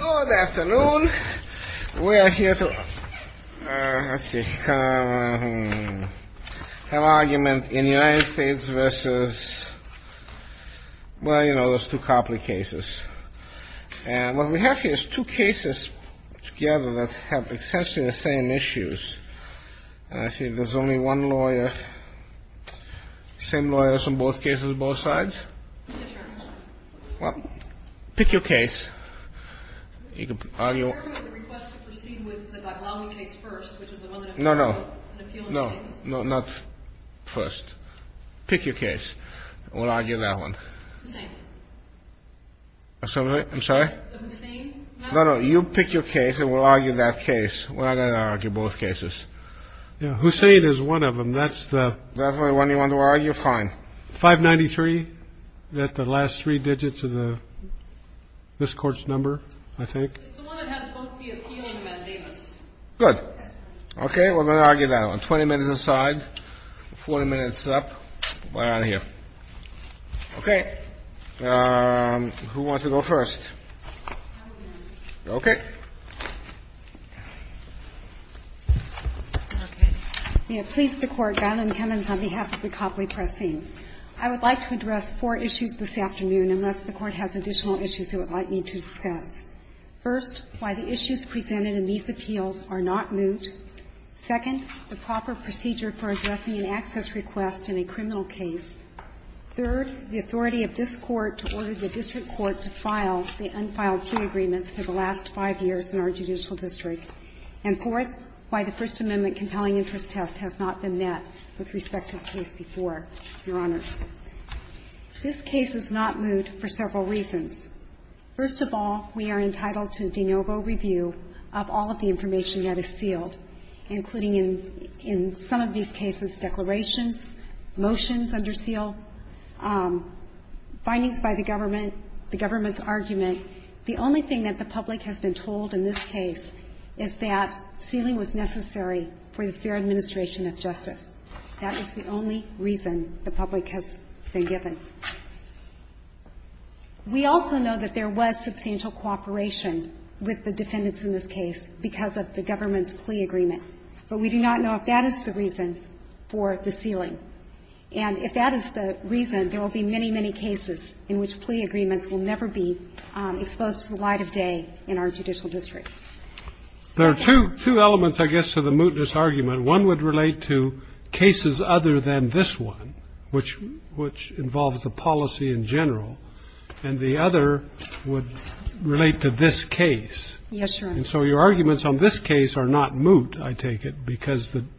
Good afternoon. We are here to have an argument in the United States versus, well, you know, those two Copley cases. And what we have here is two cases together that have essentially the same issues. And I see there's only one lawyer, same lawyers in both cases, both sides. Well, pick your case. You can argue. No, no, no, no, not first. Pick your case. We'll argue that one. I'm sorry. No, no. You pick your case and we'll argue that case. I argue both cases. Yeah. Hussein is one of them. That's the one you want to argue. Fine. Five ninety three. The last three digits of the this court's number, I think. Good. OK. We're going to argue that on 20 minutes aside. 40 minutes up. We're out of here. OK. Who wants to go first? OK. May it please the Court, Valentine, on behalf of the Copley Press team. I would like to address four issues this afternoon, unless the Court has additional issues it would like me to discuss. First, why the issues presented in these appeals are not moot. Second, the proper procedure for addressing an access request in a criminal case. Third, the authority of this Court to order the district court to file the unfiled plea agreements for the last five years in our judicial district. And fourth, why the First Amendment compelling interest test has not been met with respect to the case before, Your Honors. This case is not moot for several reasons. First of all, we are entitled to de novo review of all of the information that is sealed, including in some of these cases declarations, motions under seal, findings by the government, the government's argument. The only thing that the public has been told in this case is that sealing was necessary for the fair administration of justice. That is the only reason the public has been given. We also know that there was substantial cooperation with the defendants in this case because of the government's plea agreement. But we do not know if that is the reason for the sealing. And if that is the reason, there will be many, many cases in which plea agreements will never be exposed to the light of day in our judicial district. There are two elements, I guess, to the mootness argument. One would relate to cases other than this one, which involves the policy in general. And the other would relate to this case. And so your arguments on this case are not moot, I take it,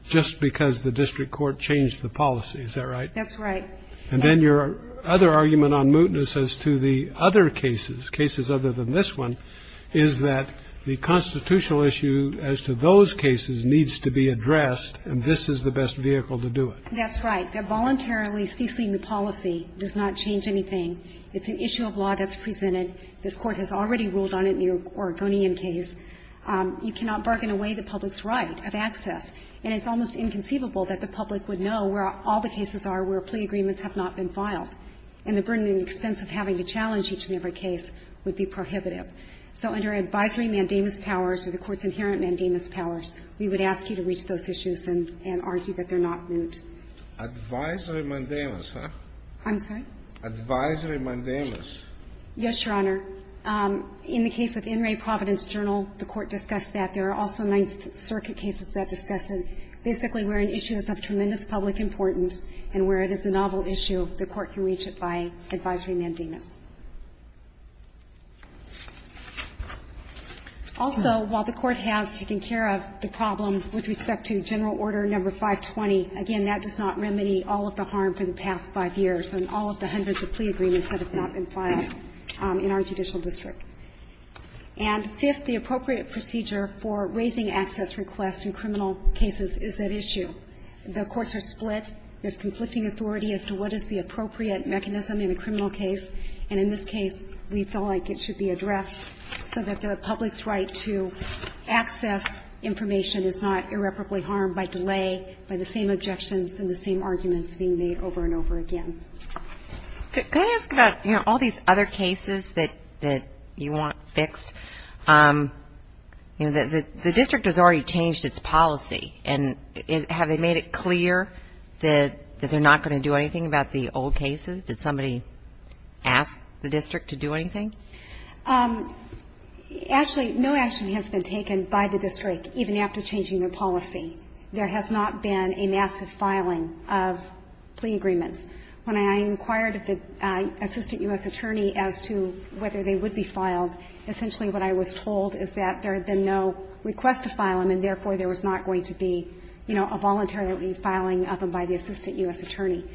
just because the district court changed the policy. Is that right? That's right. And then your other argument on mootness as to the other cases, cases other than this one, is that the constitutional issue as to those cases needs to be addressed, and this is the best vehicle to do it. That's right. That voluntarily ceasing the policy does not change anything. It's an issue of law that's presented. This Court has already ruled on it in the Oregonian case. You cannot bargain away the public's right of access. And it's almost inconceivable that the public would know where all the cases are where plea agreements have not been filed, and the burden and expense of having to challenge each and every case would be prohibitive. So under advisory mandamus powers or the Court's inherent mandamus powers, we would ask you to reach those issues and argue that they're not moot. Advisory mandamus, huh? I'm sorry? Advisory mandamus. Yes, Your Honor. In the case of In re Providence Journal, the Court discussed that. There are also Ninth Circuit cases that discuss it. Basically, where an issue is of tremendous public importance and where it is a novel issue, the Court can reach it by advisory mandamus. Also, while the Court has taken care of the problem with respect to General Order No. 520, again, that does not remedy all of the harm for the past five years and all of the hundreds of plea agreements that have not been filed in our judicial district. And fifth, the appropriate procedure for raising access requests in criminal cases is at issue. The courts are split. There's conflicting authority as to what is the appropriate mechanism in a criminal case. And in this case, we felt like it should be addressed so that the public's right to access information is not irreparably harmed by delay, by the same objections and the same arguments being made over and over again. Could I ask about, you know, all these other cases that you want fixed? You know, the district has already changed its policy. And have they made it clear that they're not going to do anything about the old cases? Did somebody ask the district to do anything? Actually, no action has been taken by the district, even after changing their policy. There has not been a massive filing of plea agreements. When I inquired with the Assistant U.S. Attorney as to whether they would be filed, essentially what I was told is that there had been no request to file them, and therefore there was not going to be, you know, a voluntary filing of them by the Assistant U.S. Attorney.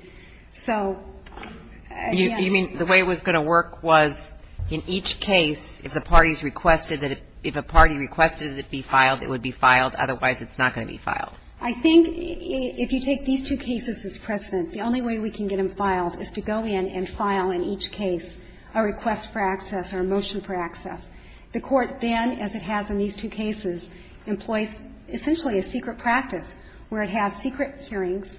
So, again, I'm not sure. You mean the way it was going to work was in each case, if the parties requested that if a party requested it be filed, it would be filed? Otherwise, it's not going to be filed? I think if you take these two cases as precedent, the only way we can get them filed is to go in and file in each case a request for access or a motion for access. The Court then, as it has in these two cases, employs essentially a secret practice where it has secret hearings,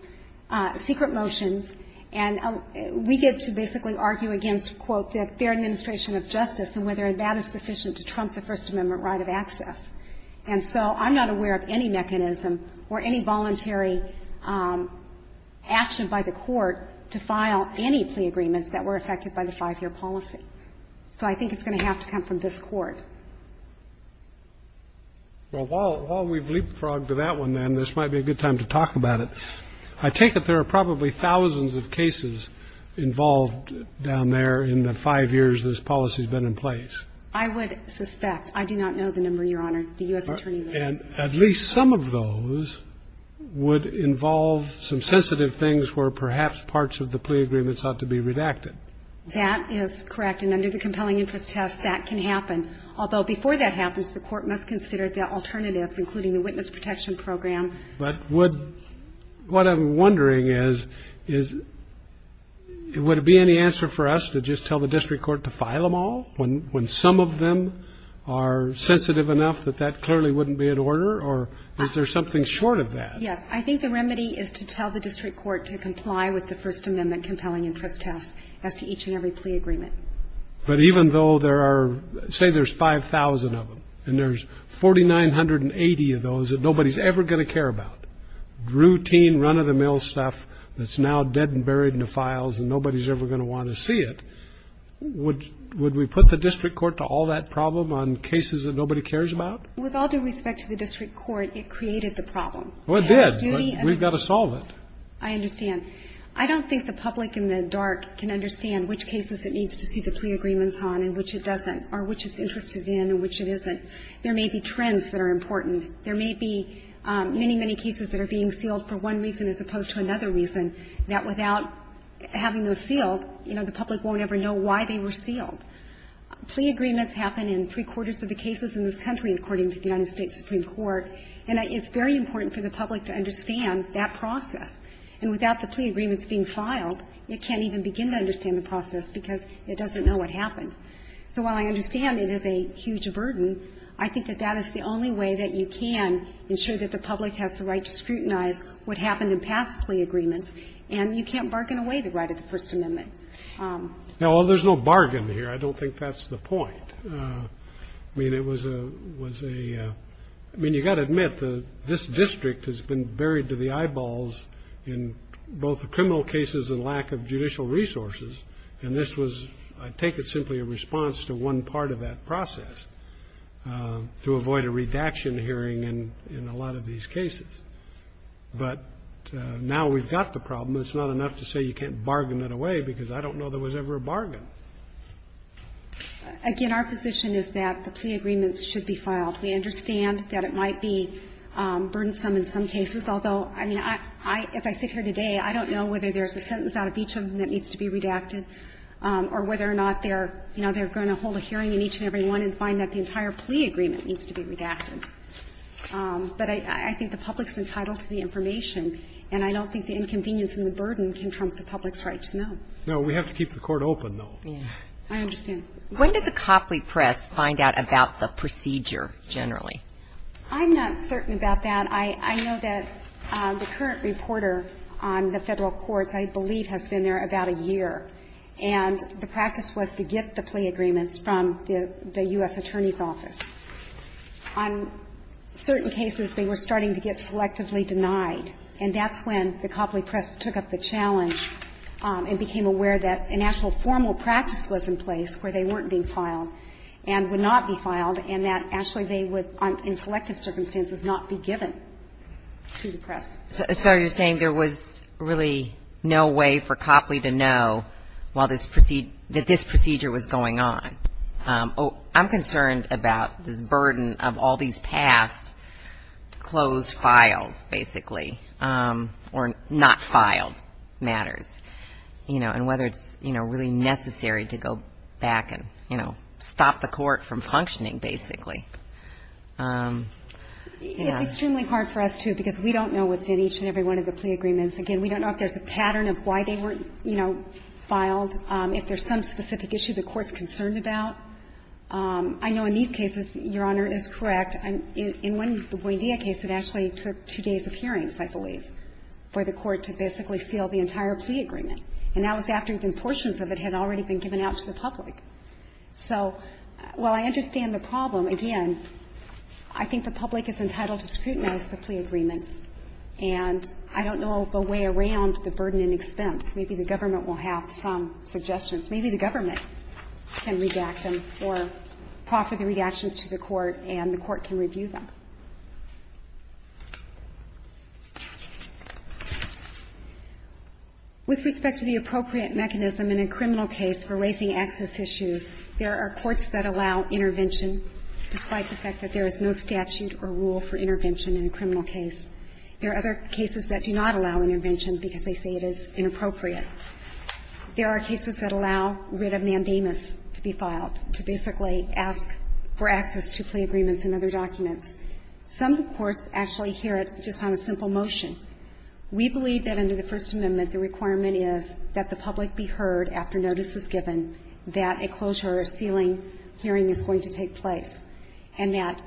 secret motions, and we get to basically argue against, quote, the fair administration of justice and whether that is sufficient to trump the First Amendment right of access. And so I'm not aware of any mechanism or any voluntary action by the Court to file any plea agreements that were affected by the 5-year policy. So I think it's going to have to come from this Court. Well, while we've leapfrogged to that one, then, this might be a good time to talk about it. I take it there are probably thousands of cases involved down there in the 5 years this policy has been in place. I would suspect. I do not know the number, Your Honor. The U.S. Attorney would. And at least some of those would involve some sensitive things where perhaps parts of the plea agreements ought to be redacted. That is correct. And under the compelling interest test, that can happen. Although before that happens, the Court must consider the alternatives, including the witness protection program. But would what I'm wondering is, is would it be any answer for us to just tell the district court to file them all when some of them are sensitive enough that that clearly wouldn't be in order? Or is there something short of that? Yes. I think the remedy is to tell the district court to comply with the First Amendment compelling interest test as to each and every plea agreement. But even though there are, say there's 5,000 of them, and there's 4,980 of those that nobody's ever going to care about, routine run-of-the-mill stuff that's now dead and buried in the files and nobody's ever going to want to see it, would we put the district court to all that problem on cases that nobody cares about? With all due respect to the district court, it created the problem. Well, it did, but we've got to solve it. I understand. I don't think the public in the dark can understand which cases it needs to see the plea agreements on and which it doesn't or which it's interested in and which it isn't. There may be trends that are important. There may be many, many cases that are being sealed for one reason as opposed to another reason, that without having those sealed, you know, the public won't ever know why they were sealed. Plea agreements happen in three-quarters of the cases in this country, according to the United States Supreme Court, and it's very important for the public to understand that process. And without the plea agreements being filed, it can't even begin to understand the process because it doesn't know what happened. So while I understand it is a huge burden, I think that that is the only way that you can ensure that the public has the right to scrutinize what happened in past plea agreements, and you can't bargain away the right of the First Amendment. Well, there's no bargain here. I don't think that's the point. I mean, it was a ñ I mean, you've got to admit, this district has been buried to the ground in both the criminal cases and lack of judicial resources, and this was, I take it, simply a response to one part of that process, to avoid a redaction hearing in a lot of these cases. But now we've got the problem. It's not enough to say you can't bargain it away because I don't know there was ever a bargain. Again, our position is that the plea agreements should be filed. We understand that it might be burdensome in some cases, although, I mean, I ñ as I sit here today, I don't know whether there's a sentence out of each of them that needs to be redacted or whether or not they're, you know, they're going to hold a hearing in each and every one and find that the entire plea agreement needs to be redacted. But I think the public's entitled to the information, and I don't think the inconvenience and the burden can trump the public's right to know. No, we have to keep the Court open, though. I understand. When did the Copley Press find out about the procedure generally? I'm not certain about that. I know that the current reporter on the Federal Courts I believe has been there about a year, and the practice was to get the plea agreements from the U.S. Attorney's Office. On certain cases, they were starting to get selectively denied, and that's when the Copley Press took up the challenge and became aware that an actual formal practice was in place where they weren't being filed and would not be filed, and that actually they would, in selective circumstances, not be given to the press. So you're saying there was really no way for Copley to know while this procedure was going on. I'm concerned about this burden of all these past closed files, basically, or not filed matters, you know, and whether it's, you know, really necessary to go back and, you know, stop the Court from functioning, basically. It's extremely hard for us, too, because we don't know what's in each and every one of the plea agreements. Again, we don't know if there's a pattern of why they weren't, you know, filed, if there's some specific issue the Court's concerned about. I know in these cases, Your Honor, is correct. In one, the Buendia case, it actually took two days of hearings, I believe, for the entire plea agreement. And that was after even portions of it had already been given out to the public. So while I understand the problem, again, I think the public is entitled to scrutinize the plea agreements. And I don't know the way around the burden and expense. Maybe the government will have some suggestions. Maybe the government can redact them or proffer the redactions to the Court and the Court can review them. With respect to the appropriate mechanism in a criminal case for raising access issues, there are courts that allow intervention despite the fact that there is no statute or rule for intervention in a criminal case. There are other cases that do not allow intervention because they say it is inappropriate. There are cases that allow writ of mandamus to be filed, to basically ask for access to plea agreements and other documents. Some courts actually hear it just on a simple motion. We believe that under the First Amendment the requirement is that the public be heard after notice is given that a closure or a sealing hearing is going to take place, and that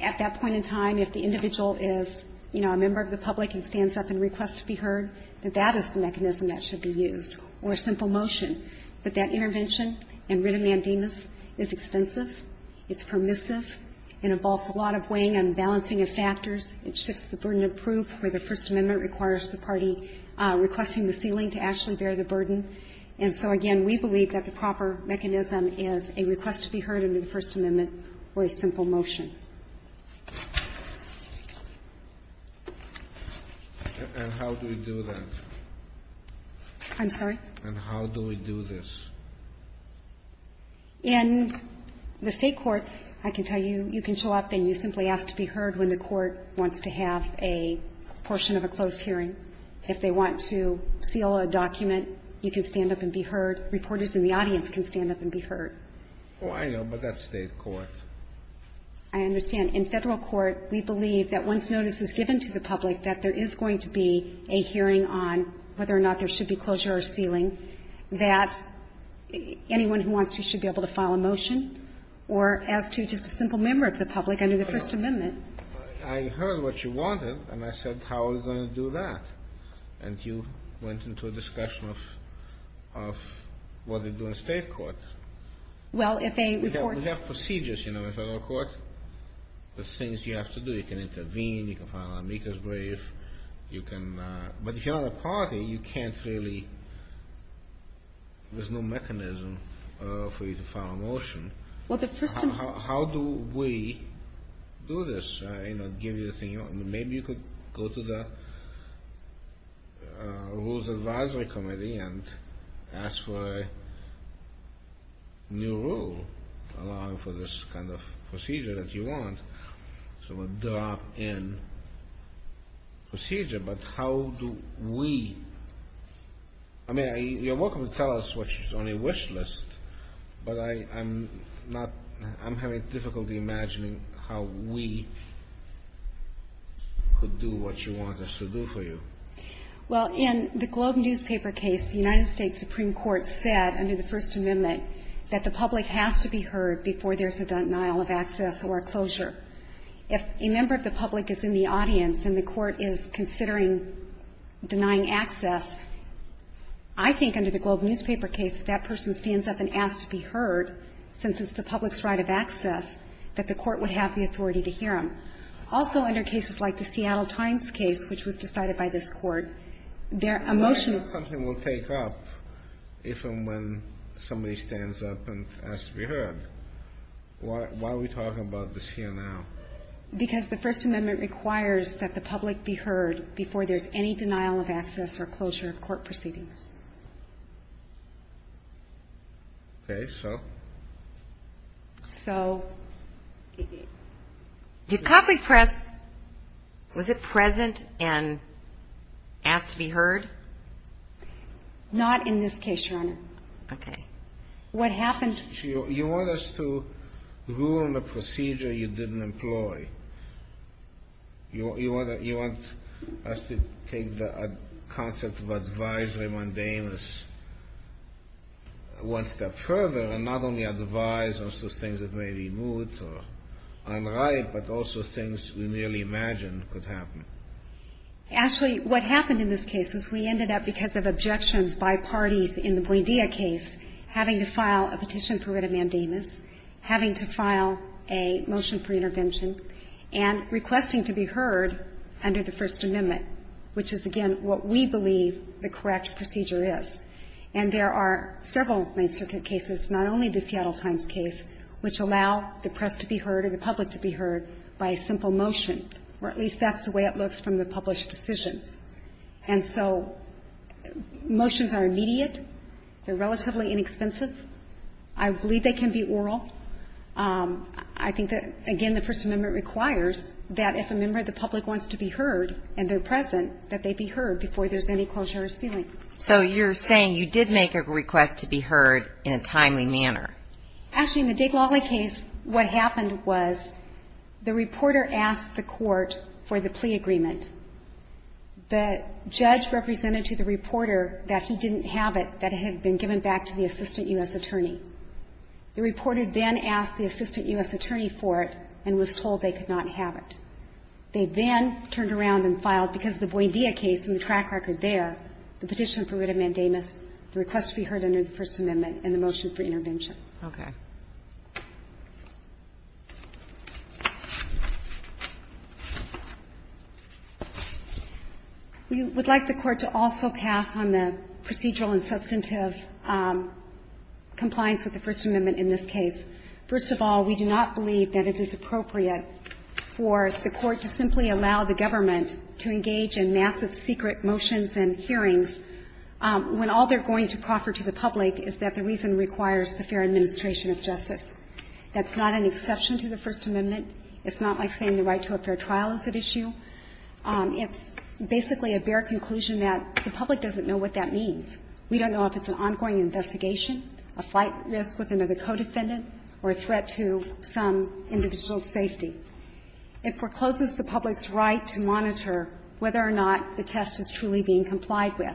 at that point in time, if the individual is, you know, a member of the public and stands up and requests to be heard, that that is the mechanism that should be used, or a simple motion. But that intervention and writ of mandamus is expensive. It's permissive. It involves a lot of weighing and balancing of factors. It shifts the burden of proof, where the First Amendment requires the party requesting the sealing to actually bear the burden. And so, again, we believe that the proper mechanism is a request to be heard under the First Amendment or a simple motion. And how do we do that? I'm sorry? And how do we do this? In the State courts, I can tell you, you can show up and you simply ask to be heard when the court wants to have a portion of a closed hearing. If they want to seal a document, you can stand up and be heard. Reporters in the audience can stand up and be heard. Oh, I know, but that's State court. I understand. In Federal court, we believe that once notice is given to the public that there is going to be a hearing on whether or not there should be closure or sealing, that anyone who wants to should be able to file a motion or ask to just a simple member of the public under the First Amendment. I heard what you wanted, and I said, how are we going to do that? And you went into a discussion of what to do in State court. Well, if a reporter We have procedures, you know, in Federal court. The things you have to do. You can intervene. You can file an amicus brief. But if you're not a party, there's no mechanism for you to file a motion. How do we do this? Maybe you could go to the Rules Advisory Committee and ask for a new rule allowing for this kind of procedure that you want. So a drop-in procedure. But how do we I mean, you're welcome to tell us what's on your wish list, but I'm not I'm having difficulty imagining how we could do what you want us to do for you. Well, in the Globe newspaper case, the United States Supreme Court said under the First Amendment, the public has to be heard before there's a denial of access or a closure. If a member of the public is in the audience and the court is considering denying access, I think under the Globe newspaper case, if that person stands up and asks to be heard, since it's the public's right of access, that the court would have the authority to hear them. Also, under cases like the Seattle Times case, which was decided by this Court, their emotional Something will take up if and when somebody stands up and asks to be heard. Why are we talking about this here now? Because the First Amendment requires that the public be heard before there's any denial of access or closure of court proceedings. Okay. So? So the public press, was it present and asked to be heard? Not in this case, Your Honor. Okay. What happened You want us to rule on a procedure you didn't employ. You want us to take the concept of advisory mundaneness one step further and not only advise on some things that may be moot or unright, but also things we merely imagined could happen. Actually, what happened in this case is we ended up, because of objections by parties in the Buendia case, having to file a petition for writ of mandamus, having to file a motion for intervention, and requesting to be heard under the First Amendment, which is, again, what we believe the correct procedure is. And there are several main circuit cases, not only the Seattle Times case, which allow the press to be heard or the public to be heard by a simple motion, or at least that's the way it looks from the published decisions. And so motions are immediate. They're relatively inexpensive. I believe they can be oral. I think that, again, the First Amendment requires that if a member of the public wants to be heard and they're present, that they be heard before there's any closure or sealing. So you're saying you did make a request to be heard in a timely manner. Actually, in the Dick Lawley case, what happened was the reporter asked the court for the plea agreement. The judge represented to the reporter that he didn't have it, that it had been given back to the assistant U.S. attorney. The reporter then asked the assistant U.S. attorney for it and was told they could not have it. They then turned around and filed, because of the Boidia case and the track record there, the petition for writ of mandamus, the request to be heard under the First Amendment, and the motion for intervention. Kagan. We would like the Court to also pass on the procedural and substantive compliance with the First Amendment in this case. First of all, we do not believe that it is appropriate for the Court to simply allow the government to engage in massive secret motions and hearings when all they're going to proffer to the public is that the reason requires the fair administration of justice. That's not an exception to the First Amendment. It's not like saying the right to a fair trial is at issue. It's basically a bare conclusion that the public doesn't know what that means. We don't know if it's an ongoing investigation, a flight risk with another co-defendant, or a threat to some individual's safety. It forecloses the public's right to monitor whether or not the test is truly being complied with.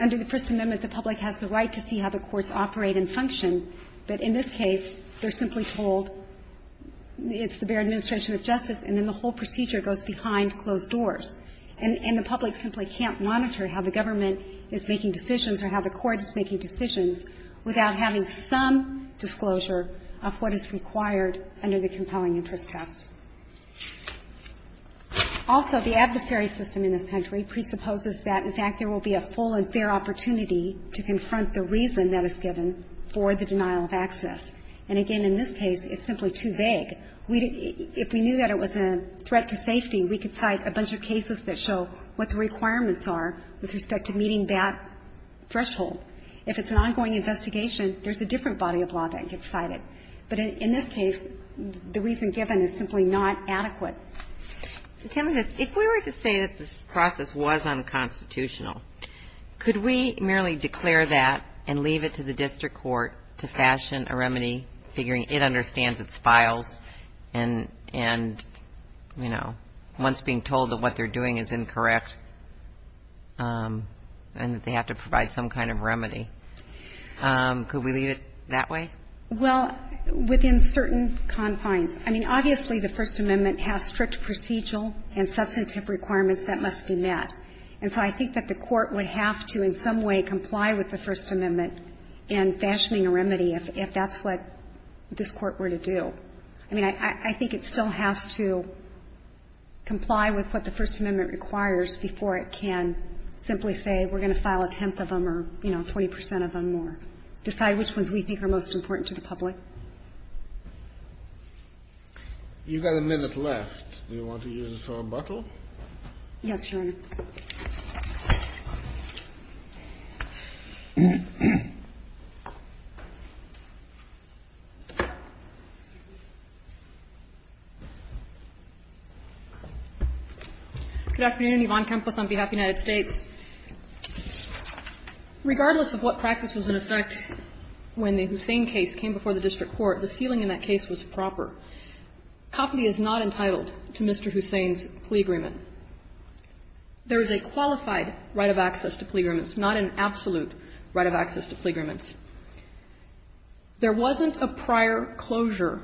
Under the First Amendment, the public has the right to see how the courts operate and function, but in this case, they're simply told it's the bare administration of justice, and then the whole procedure goes behind closed doors. And the public simply can't monitor how the government is making decisions or how the court is making decisions without having some disclosure of what is required under the compelling interest test. Also, the adversary system in this country presupposes that, in fact, there will be a full and fair opportunity to confront the reason that is given for the denial of access. And again, in this case, it's simply too vague. If we knew that it was a threat to safety, we could cite a bunch of cases that show what the requirements are with respect to meeting that threshold. If it's an ongoing investigation, there's a different body of law that gets cited. But in this case, the reason given is simply not adequate. Tell me this. If we were to say that this process was unconstitutional, could we merely declare that and leave it to the district court to fashion a remedy, figuring it understands its files and, you know, once being told that what they're doing is incorrect and that they have to provide some kind of remedy, could we leave it that way? Well, within certain confines. I mean, obviously the First Amendment has strict procedural and substantive requirements that must be met. And so I think that the court would have to in some way comply with the First Amendment and fashioning a remedy if that's what this Court were to do. I mean, I think it still has to comply with what the First Amendment requires before it can simply say we're going to file a tenth of them or, you know, 40 percent of them or decide which ones we think are most important to the public. You've got a minute left. Do you want to use it for rebuttal? Yes, Your Honor. Good afternoon. Yvonne Campos on behalf of the United States. Regardless of what practice was in effect when the Hussein case came before the district court, the ceiling in that case was proper. Copley is not entitled to Mr. Hussein's plea agreement. There is a qualified right of access to plea agreements, not an absolute right of access to plea agreements. There wasn't a prior closure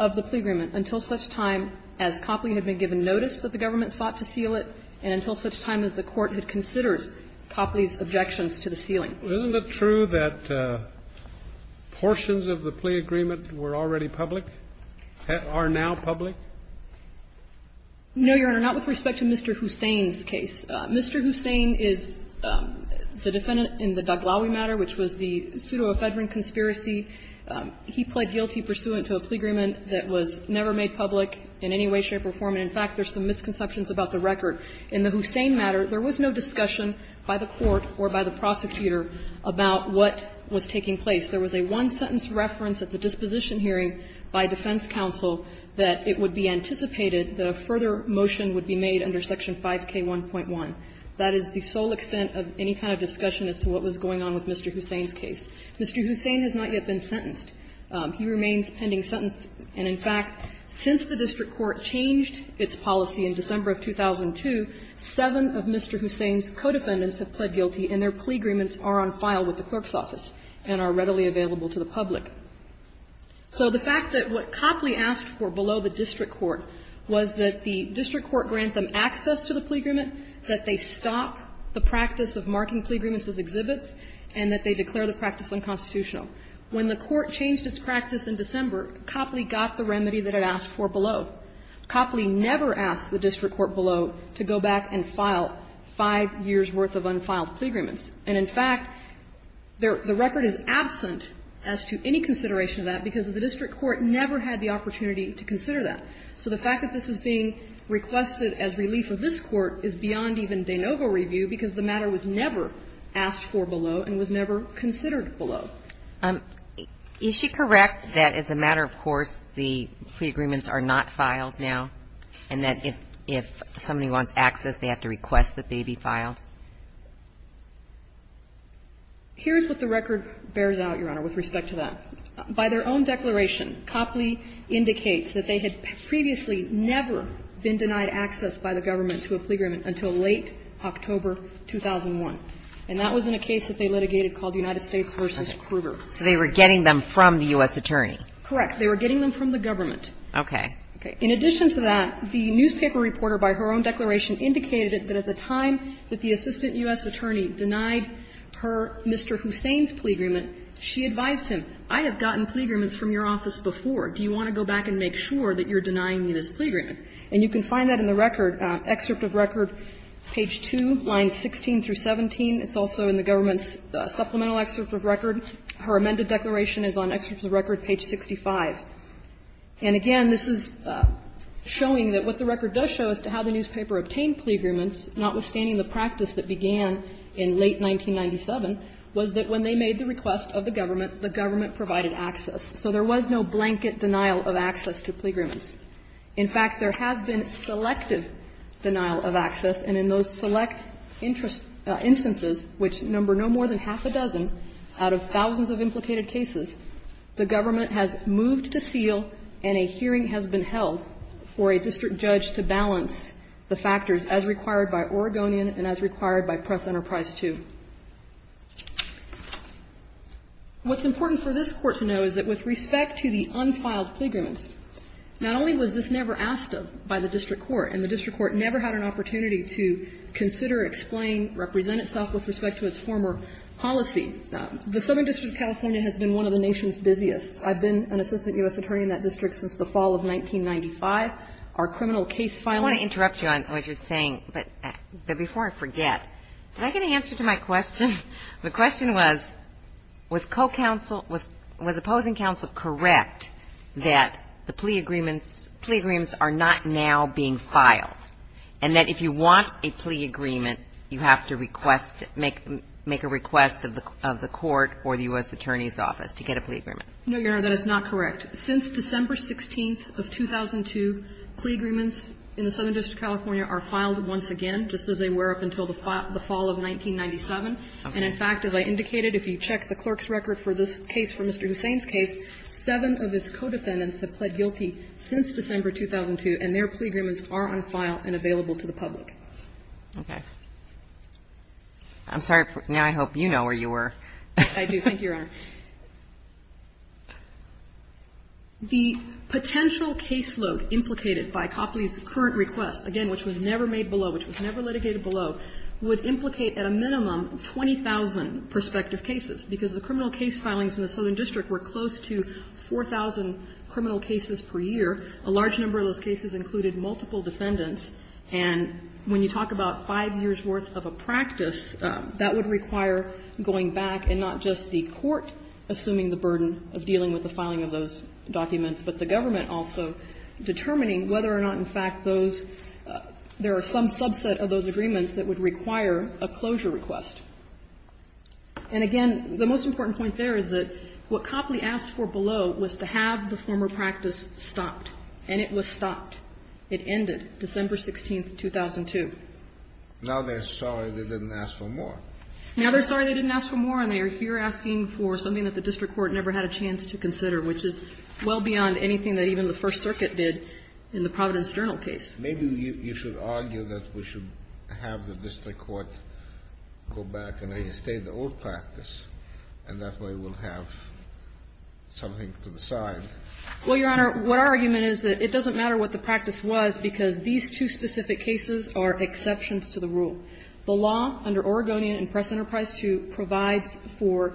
of the plea agreement until such time as Copley had been given notice that the government sought to seal it and until such time as the Court had considered Copley's objections to the ceiling. Isn't it true that portions of the plea agreement were already public, are now public? No, Your Honor, not with respect to Mr. Hussein's case. Mr. Hussein is the defendant in the Daghlawi matter, which was the pseudo-offedering conspiracy. He pled guilty pursuant to a plea agreement that was never made public in any way, shape or form. And, in fact, there's some misconceptions about the record. In the Hussein matter, there was no discussion by the court or by the prosecutor about what was taking place. There was a one-sentence reference at the disposition hearing by defense counsel that it would be anticipated that a further motion would be made under Section 5K1.1. That is the sole extent of any kind of discussion as to what was going on with Mr. Hussein's case. Mr. Hussein has not yet been sentenced. He remains pending sentence. And, in fact, since the district court changed its policy in December of 2002, seven of Mr. Hussein's co-defendants have pled guilty and their plea agreements are on file with the clerk's office and are readily available to the public. So the fact that what Copley asked for below the district court was that the district court grant them access to the plea agreement, that they stop the practice of marking plea agreements as exhibits, and that they declare the practice unconstitutional. When the court changed its practice in December, Copley got the remedy that it asked for below. Copley never asked the district court below to go back and file five years' worth of unfiled plea agreements. And, in fact, the record is absent as to any consideration of that because the district court never had the opportunity to consider that. So the fact that this is being requested as relief of this Court is beyond even de question. And the fact that the district court asked for below and was never considered below. Is she correct that, as a matter of course, the plea agreements are not filed now and that if somebody wants access, they have to request that they be filed? Here's what the record bears out, Your Honor, with respect to that. By their own declaration, Copley indicates that they had previously never been denied access by the government to a plea agreement until late October 2001. And that was in a case that they litigated called United States v. Kruger. So they were getting them from the U.S. attorney. Correct. They were getting them from the government. Okay. In addition to that, the newspaper reporter, by her own declaration, indicated that at the time that the assistant U.S. attorney denied her Mr. Hussain's plea agreement, she advised him, I have gotten plea agreements from your office before. Do you want to go back and make sure that you're denying me this plea agreement? And you can find that in the record, excerpt of record, page 2, lines 16 through 17. It's also in the government's supplemental excerpt of record. Her amended declaration is on excerpt of record page 65. And again, this is showing that what the record does show as to how the newspaper obtained plea agreements, notwithstanding the practice that began in late 1997, was that when they made the request of the government, the government provided access. So there was no blanket denial of access to plea agreements. In fact, there has been selective denial of access, and in those select interest instances, which number no more than half a dozen out of thousands of implicated cases, the government has moved to seal and a hearing has been held for a district judge to balance the factors as required by Oregonian and as required by Press Enterprise II. What's important for this Court to know is that with respect to the unfiled plea agreements, not only was this never asked of by the district court, and the district court never had an opportunity to consider, explain, represent itself with respect to its former policy. The Southern District of California has been one of the nation's busiest. I've been an assistant U.S. attorney in that district since the fall of 1995. Our criminal case filings — I want to interrupt you on what you're saying, but before I forget, did I get an answer to my question? The question was, was co-counsel — was opposing counsel correct that the plea agreements are not now being filed, and that if you want a plea agreement, you have to request — make a request of the court or the U.S. Attorney's Office to get a plea agreement? No, Your Honor, that is not correct. Since December 16th of 2002, plea agreements in the Southern District of California are filed once again, just as they were up until the fall of 1997. And, in fact, as I indicated, if you check the clerk's record for this case, for Mr. Hussain's case, seven of his co-defendants have pled guilty since December 2002, and their plea agreements are on file and available to the public. Okay. I'm sorry. Now I hope you know where you were. I do. Thank you, Your Honor. The potential caseload implicated by Copley's current request, again, which was never made below, which was never litigated below, would implicate at a minimum 20,000 prospective cases, because the criminal case filings in the Southern District were close to 4,000 criminal cases per year. A large number of those cases included multiple defendants. And when you talk about five years' worth of a practice, that would require going back, and not just the court assuming the burden of dealing with the filing of those documents, but the government also determining whether or not, in fact, those — there are some subset of those agreements that would require a closure request. And, again, the most important point there is that what Copley asked for below was to have the former practice stopped, and it was stopped. It ended December 16, 2002. Now they're sorry they didn't ask for more. Now they're sorry they didn't ask for more, and they are here asking for something that the district court never had a chance to consider, which is well beyond anything that even the First Circuit did in the Providence Journal case. Maybe you should argue that we should have the district court go back and reinstate the old practice, and that way we'll have something to the side. Well, Your Honor, what our argument is that it doesn't matter what the practice was, because these two specific cases are exceptions to the rule. The law under Oregonian and Press Enterprise II provides for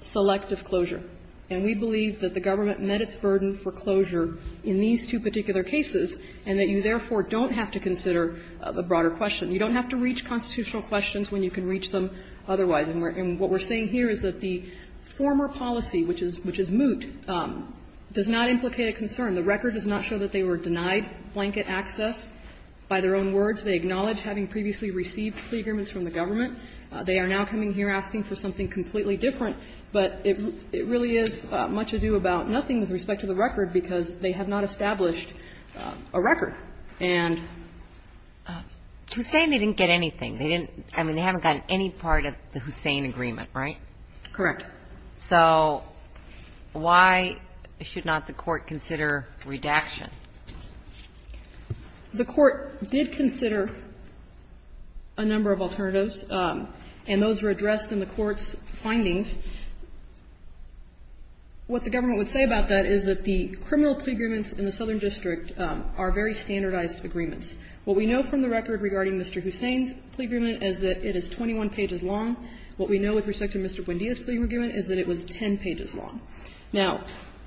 selective closure. And we believe that the government met its burden for closure in these two particular cases, and that you, therefore, don't have to consider the broader question. You don't have to reach constitutional questions when you can reach them otherwise. And what we're saying here is that the former policy, which is moot, does not implicate a concern. The record does not show that they were denied blanket access by their own words. They acknowledge having previously received plea agreements from the government. They are now coming here asking for something completely different. But it really is much ado about nothing with respect to the record, because they have not established a record. And to say they didn't get anything, they didn't – I mean, they haven't gotten any part of the Hussain agreement, right? Correct. So why should not the Court consider redaction? The Court did consider a number of alternatives, and those were addressed in the Court's findings. What the government would say about that is that the criminal plea agreements in the Southern District are very standardized agreements. What we know from the record regarding Mr. Hussain's plea agreement is that it is 21 pages long. What we know with respect to Mr. Buendia's plea agreement is that it was 10 pages long. Now,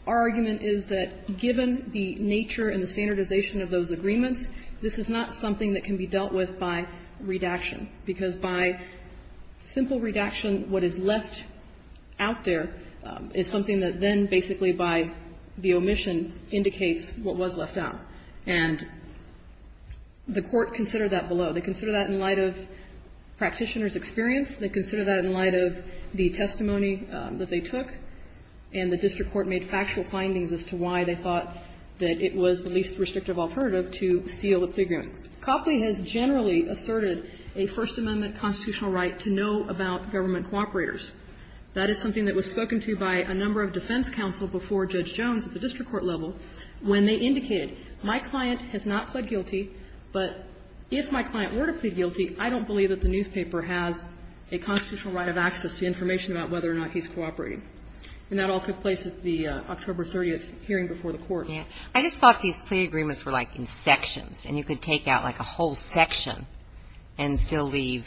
our argument is that given the nature and the standardization of those agreements, this is not something that can be dealt with by redaction, because by simple redaction, what is left out there is something that then basically by the omission indicates what was left out. And the Court considered that below. They considered that in light of practitioners' experience. They considered that in light of the testimony that they took. And the district court made factual findings as to why they thought that it was the least restrictive alternative to seal the plea agreement. Copley has generally asserted a First Amendment constitutional right to know about government cooperators. That is something that was spoken to by a number of defense counsel before Judge Jones at the district court level when they indicated, my client has not pled guilty, but if my client were to plead guilty, I don't believe that the newspaper has a constitutional right of access to information about whether or not he's cooperating. And that all took place at the October 30th hearing before the Court. I just thought these plea agreements were like in sections, and you could take out like a whole section and still leave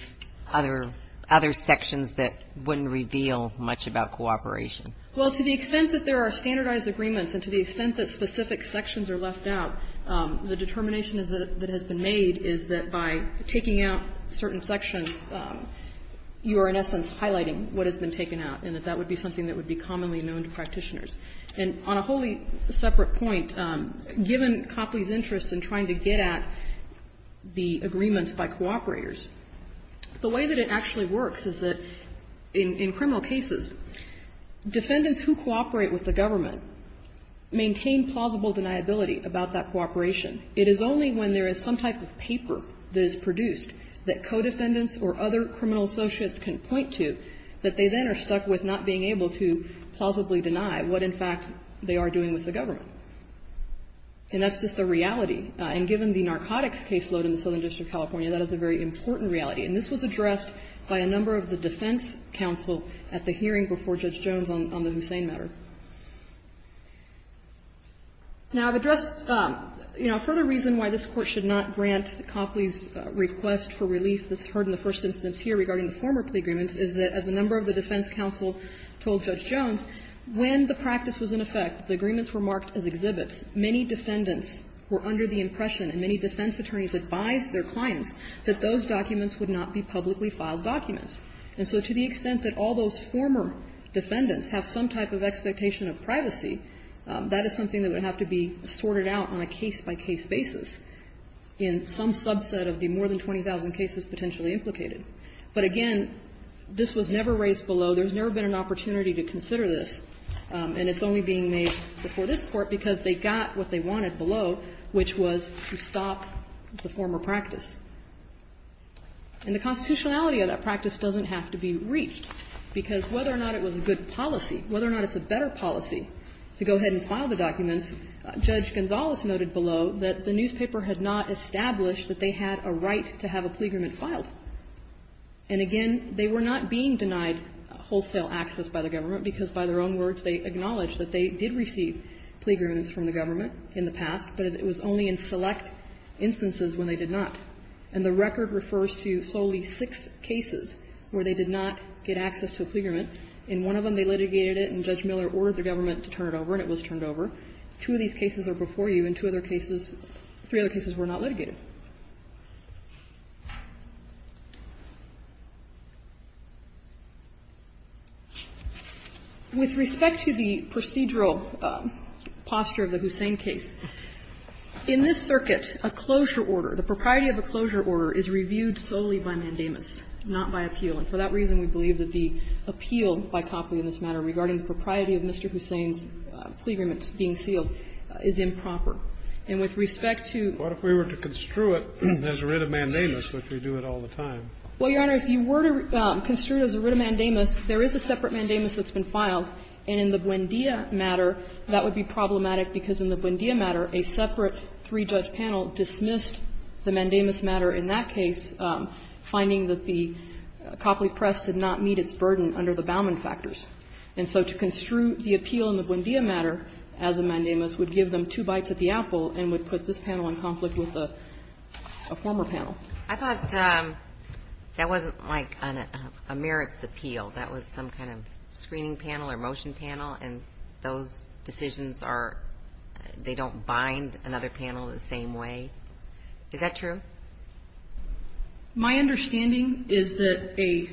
other sections that wouldn't reveal much about cooperation. Well, to the extent that there are standardized agreements and to the extent that specific sections are left out, the determination that has been made is that by taking out certain sections, you are in essence highlighting what has been taken out, and that that would be something that would be commonly known to practitioners. And on a wholly separate point, given Copley's interest in trying to get at the agreements by cooperators, the way that it actually works is that in criminal cases, defendants who cooperate with the government maintain plausible deniability about that cooperation. It is only when there is some type of paper that is produced that co-defendants or other criminal associates can point to that they then are stuck with not being able to plausibly deny what, in fact, they are doing with the government. And that's just a reality. And given the narcotics caseload in the Southern District of California, that is a very important reality. And this was addressed by a number of the defense counsel at the hearing before Judge Jones on the Hussein matter. Now, I've addressed, you know, a further reason why this Court should not grant Copley's request for relief that's heard in the first instance here regarding the former plea agreements is that, as a number of the defense counsel told Judge Jones, when the practice was in effect, the agreements were marked as exhibits, many defendants were under the impression and many defense attorneys advised their clients that those documents would not be publicly filed documents. And so to the extent that all those former defendants have some type of expectation of privacy, that is something that would have to be sorted out on a case-by-case basis in some subset of the more than 20,000 cases potentially implicated. But again, this was never raised below. There's never been an opportunity to consider this. And it's only being made before this Court because they got what they wanted below, which was to stop the former practice. And the constitutionality of that practice doesn't have to be reached, because whether or not it was a good policy, whether or not it's a better policy to go ahead and file the documents, Judge Gonzales noted below that the newspaper had not established that they had a right to have a plea agreement filed. And again, they were not being denied wholesale access by the government, because by their own words, they acknowledged that they did receive plea agreements from the government in the past, but it was only in select instances when they did not. And the record refers to solely six cases where they did not get access to a plea agreement. In one of them, they litigated it and Judge Miller ordered the government to turn it over, and it was turned over. Two of these cases are before you, and two other cases, three other cases were not litigated. With respect to the procedural posture of the Hussain case, in this circuit, a closure order, the propriety of a closure order is reviewed solely by mandamus, not by appeal. And for that reason, we believe that the appeal by Copley in this matter regarding the propriety of Mr. Hussain's plea agreements being sealed is improper. And with respect to ---- Kennedy, If we were to construe it as writ of mandamus, which we do it all the time, What would that mean? Well, Your Honor, if you were to construe it as a writ of mandamus, there is a separate mandamus that's been filed, and in the Buendia matter, that would be problematic. Because in the Buendia matter, a separate three-judge panel dismissed the mandamus matter in that case, finding that the Copley press did not meet its burden under the Bauman factors. And so to construe the appeal in the Buendia matter as a mandamus would give them two bites at the apple and would put this panel in conflict with a former panel. I thought that wasn't, like, a merits appeal. That was some kind of screening panel or motion panel, and those decisions are ---- they don't bind another panel the same way. Is that true? My understanding is that a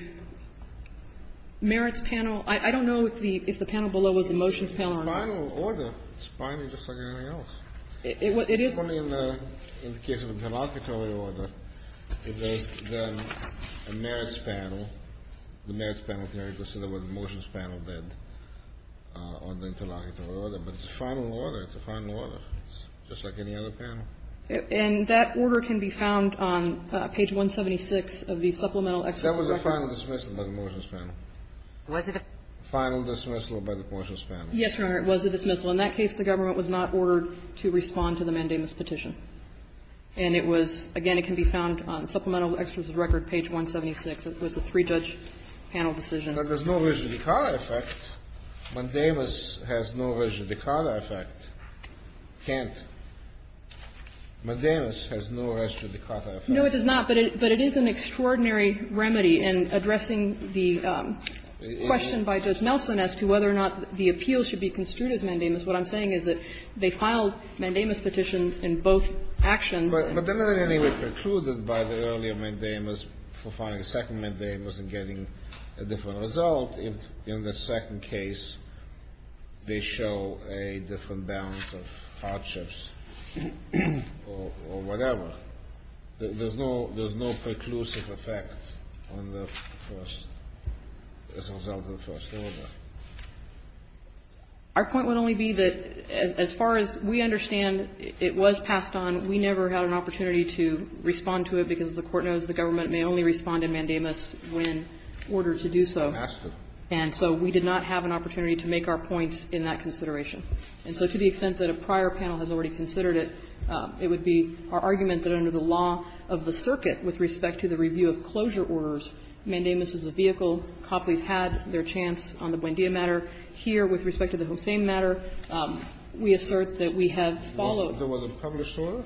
merits panel ---- I don't know if the panel below was a motions panel or not. It's a final order. It's binding just like anything else. It is. Only in the case of an interlocutory order, if there's a merits panel, the merits panel can only consider what the motions panel did on the interlocutory order. But it's a final order. It's a final order. It's just like any other panel. And that order can be found on page 176 of the Supplemental Excerpt of the Record. That was a final dismissal by the motions panel. Was it a final dismissal by the motions panel? Yes, Your Honor, it was a dismissal. In that case, the government was not ordered to respond to the Mandamus petition. And it was, again, it can be found on Supplemental Excerpt of the Record, page 176. It was a three-judge panel decision. But there's no Reggi Dicatta effect. Mandamus has no Reggi Dicatta effect. Can't. Mandamus has no Reggi Dicatta effect. No, it does not. But it is an extraordinary remedy in addressing the question by Judge Nelson as to whether or not the appeal should be construed as Mandamus. What I'm saying is that they filed Mandamus petitions in both actions. But then they were precluded by the earlier Mandamus for filing a second Mandamus and getting a different result if in the second case they show a different balance of hardships or whatever. There's no preclusive effect on the first as a result of the first order. Our point would only be that, as far as we understand, it was passed on. We never had an opportunity to respond to it, because the Court knows the government may only respond in Mandamus when ordered to do so. And so we did not have an opportunity to make our point in that consideration. And so to the extent that a prior panel has already considered it, it would be our argument that under the law of the circuit with respect to the review of closure orders, Mandamus is the vehicle. Copley's had their chance on the Buendia matter. Here, with respect to the Hossein matter, we assert that we have followed. There was a published order?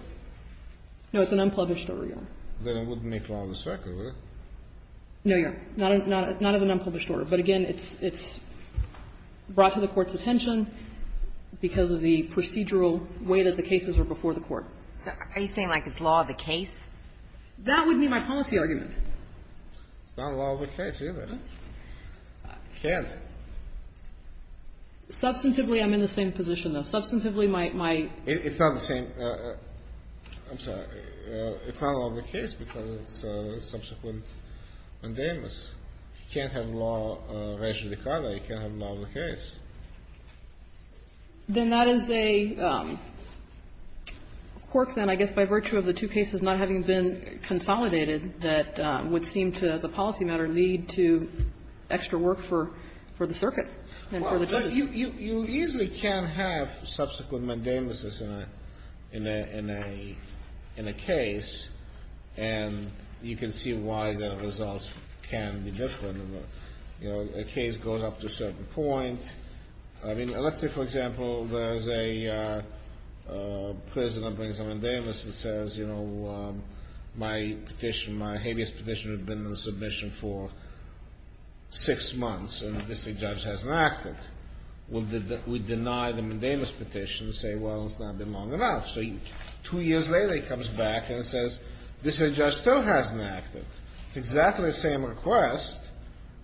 No, it's an unpublished order, Your Honor. Then it wouldn't make law of the circuit, would it? No, Your Honor. Not as an unpublished order. But again, it's brought to the Court's attention because of the procedural way that the cases are before the Court. Are you saying, like, it's law of the case? That would be my policy argument. It's not law of the case, either. It can't. Substantively, I'm in the same position, though. Substantively, my my It's not the same. I'm sorry. It's not law of the case because it's subsequent Mandamus. He can't have law of racial dichotomy. He can't have law of the case. Then that is a quirk, then, I guess, by virtue of the two cases not having been consolidated, that would seem to, as a policy matter, lead to extra work for the circuit and for the case. Well, but you easily can't have subsequent Mandamus in a case, and you can see why the results can be different. You know, a case goes up to a certain point. I mean, let's say, for example, there's a prisoner who brings a Mandamus and says, you know, my petition, my habeas petition has been in submission for six months, and the district judge hasn't acted. We deny the Mandamus petition and say, well, it's not been long enough. So two years later, he comes back and says, district judge still hasn't acted. It's exactly the same request.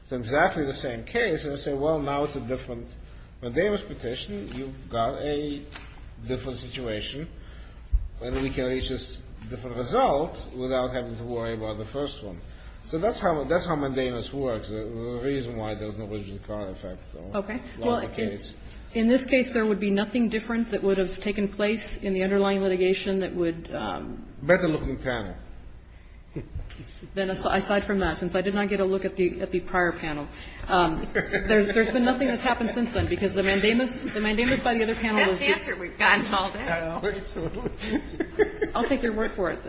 It's exactly the same case. And I say, well, now it's a different Mandamus petition. You've got a different situation. And we can reach this different result without having to worry about the first one. So that's how Mandamus works. There's a reason why there's no rigid card effect. Okay. Well, in this case, there would be nothing different that would have taken place in the underlying litigation that would been a better-looking panel. Then aside from that, since I did not get a look at the prior panel, there's been nothing that's happened since then, because the Mandamus by the other panel. That's the answer we've gotten all day. I'll take your word for it.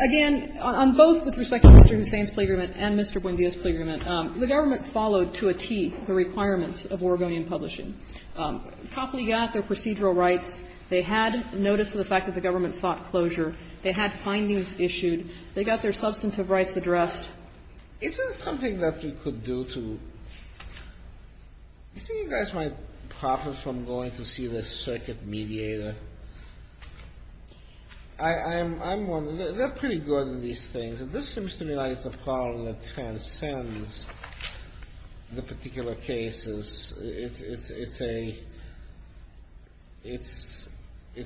Again, on both with respect to Mr. Hussain's plea agreement and Mr. Buendia's plea agreement, the government followed to a T the requirements of Oregonian publishing. Copley got their procedural rights. They had notice of the fact that the government sought closure. They had findings issued. They got their substantive rights addressed. Is there something that we could do to – do you think you guys might profit from going to see the circuit mediator? They're pretty good in these things. This seems to me like it's a problem that transcends the particular cases. It's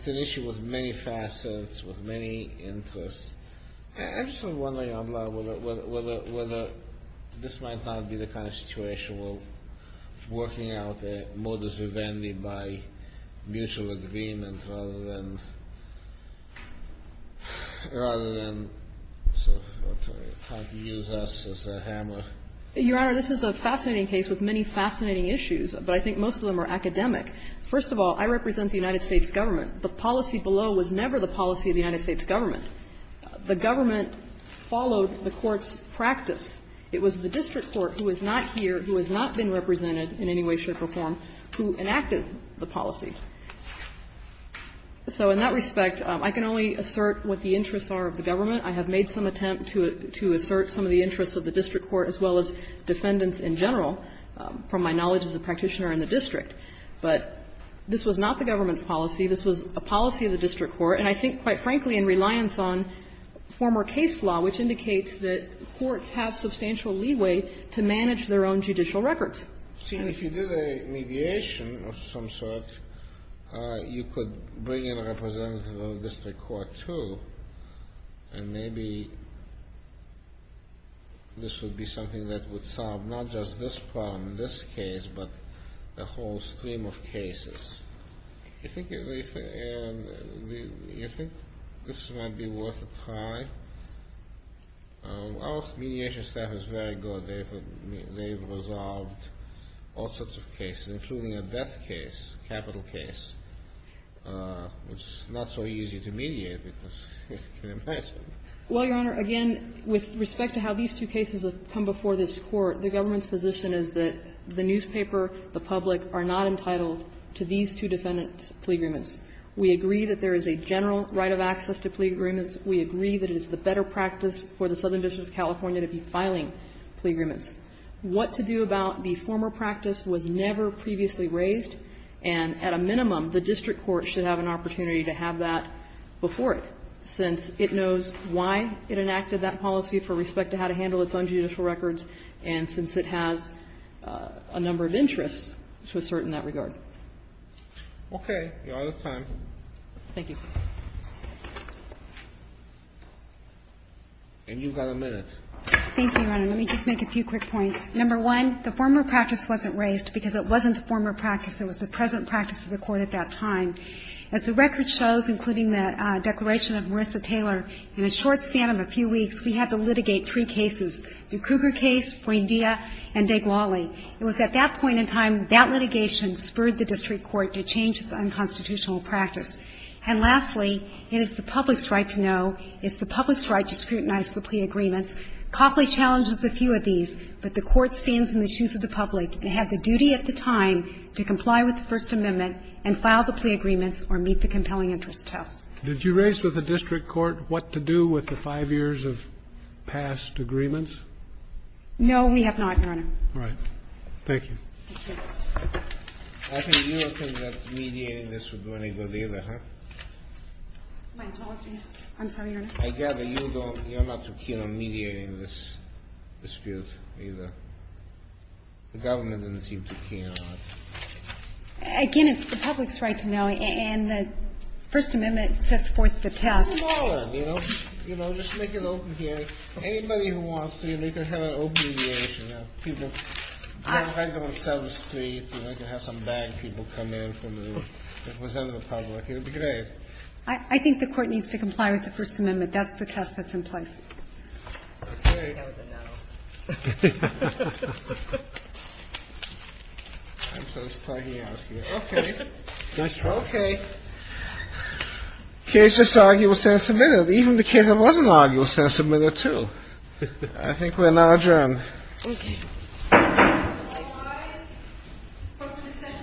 an issue with many facets, with many interests. I'm just wondering whether this might not be the kind of situation where working out a modus vivendi by mutual agreement rather than – rather than trying to use us as a hammer. Your Honor, this is a fascinating case with many fascinating issues, but I think most of them are academic. First of all, I represent the United States government. The policy below was never the policy of the United States government. The government followed the court's practice. It was the district court who is not here, who has not been represented in any way, shape, or form, who enacted the policy. So in that respect, I can only assert what the interests are of the government. I have made some attempt to assert some of the interests of the district court as well as defendants in general, from my knowledge as a practitioner in the district. But this was not the government's policy. This was a policy of the district court. And I think, quite frankly, in reliance on former case law, which indicates that courts have substantial leeway to manage their own judicial records. And if you did a mediation of some sort, you could bring in a representative of the district court, too, and maybe this would be something that would solve not just this problem, this case, but a whole stream of cases. Do you think this might be worth a try? Our mediation staff is very good. They have resolved all sorts of cases, including a death case, capital case, which is not so easy to mediate because you can imagine. Well, Your Honor, again, with respect to how these two cases have come before this court, the government's position is that the newspaper, the public, are not entitled to these two defendants' plea agreements. We agree that there is a general right of access to plea agreements. We agree that it is the better practice for the Southern District of California to be filing plea agreements. What to do about the former practice was never previously raised, and at a minimum, the district court should have an opportunity to have that before it, since it knows why it enacted that policy for respect to how to handle its own judicial records and since it has a number of interests to assert in that regard. Okay. Your Honor, time. Thank you. And you've got a minute. Thank you, Your Honor. Let me just make a few quick points. Number one, the former practice wasn't raised because it wasn't the former practice. It was the present practice of the court at that time. As the record shows, including the declaration of Marissa Taylor, in a short span of a few weeks, we had to litigate three cases. The Kruger case, Fuendia, and Deglali. It was at that point in time that litigation spurred the district court to change its unconstitutional practice. And lastly, it is the public's right to know, it's the public's right to scrutinize the plea agreements. Copley challenges a few of these, but the court stands in the shoes of the public and had the duty at the time to comply with the First Amendment and file the plea agreements or meet the compelling interest test. Did you raise with the district court what to do with the five years of past agreements? No, we have not, Your Honor. All right. Thank you. Thank you. I think you don't think that mediating this would do any good either, huh? My apologies. I'm sorry, Your Honor. I gather you don't. You're not too keen on mediating this dispute either. The government doesn't seem too keen on it. Again, it's the public's right to know, and the First Amendment sets forth the test. You know, just make it open here. Anybody who wants to, you know, you can have an open mediation. You know, people, you don't have to have them sell the streets. You know, you can have some bad people come in from the rest of the public. It would be great. I think the court needs to comply with the First Amendment. That's the test that's in place. All right. That was a no. I'm just plugging out here. Okay. Nice try. Okay. The case is arguably sent and submitted. Even the case that wasn't arguably sent and submitted, too. I think we're now adjourned. Okay. All rise. The session is now adjourned.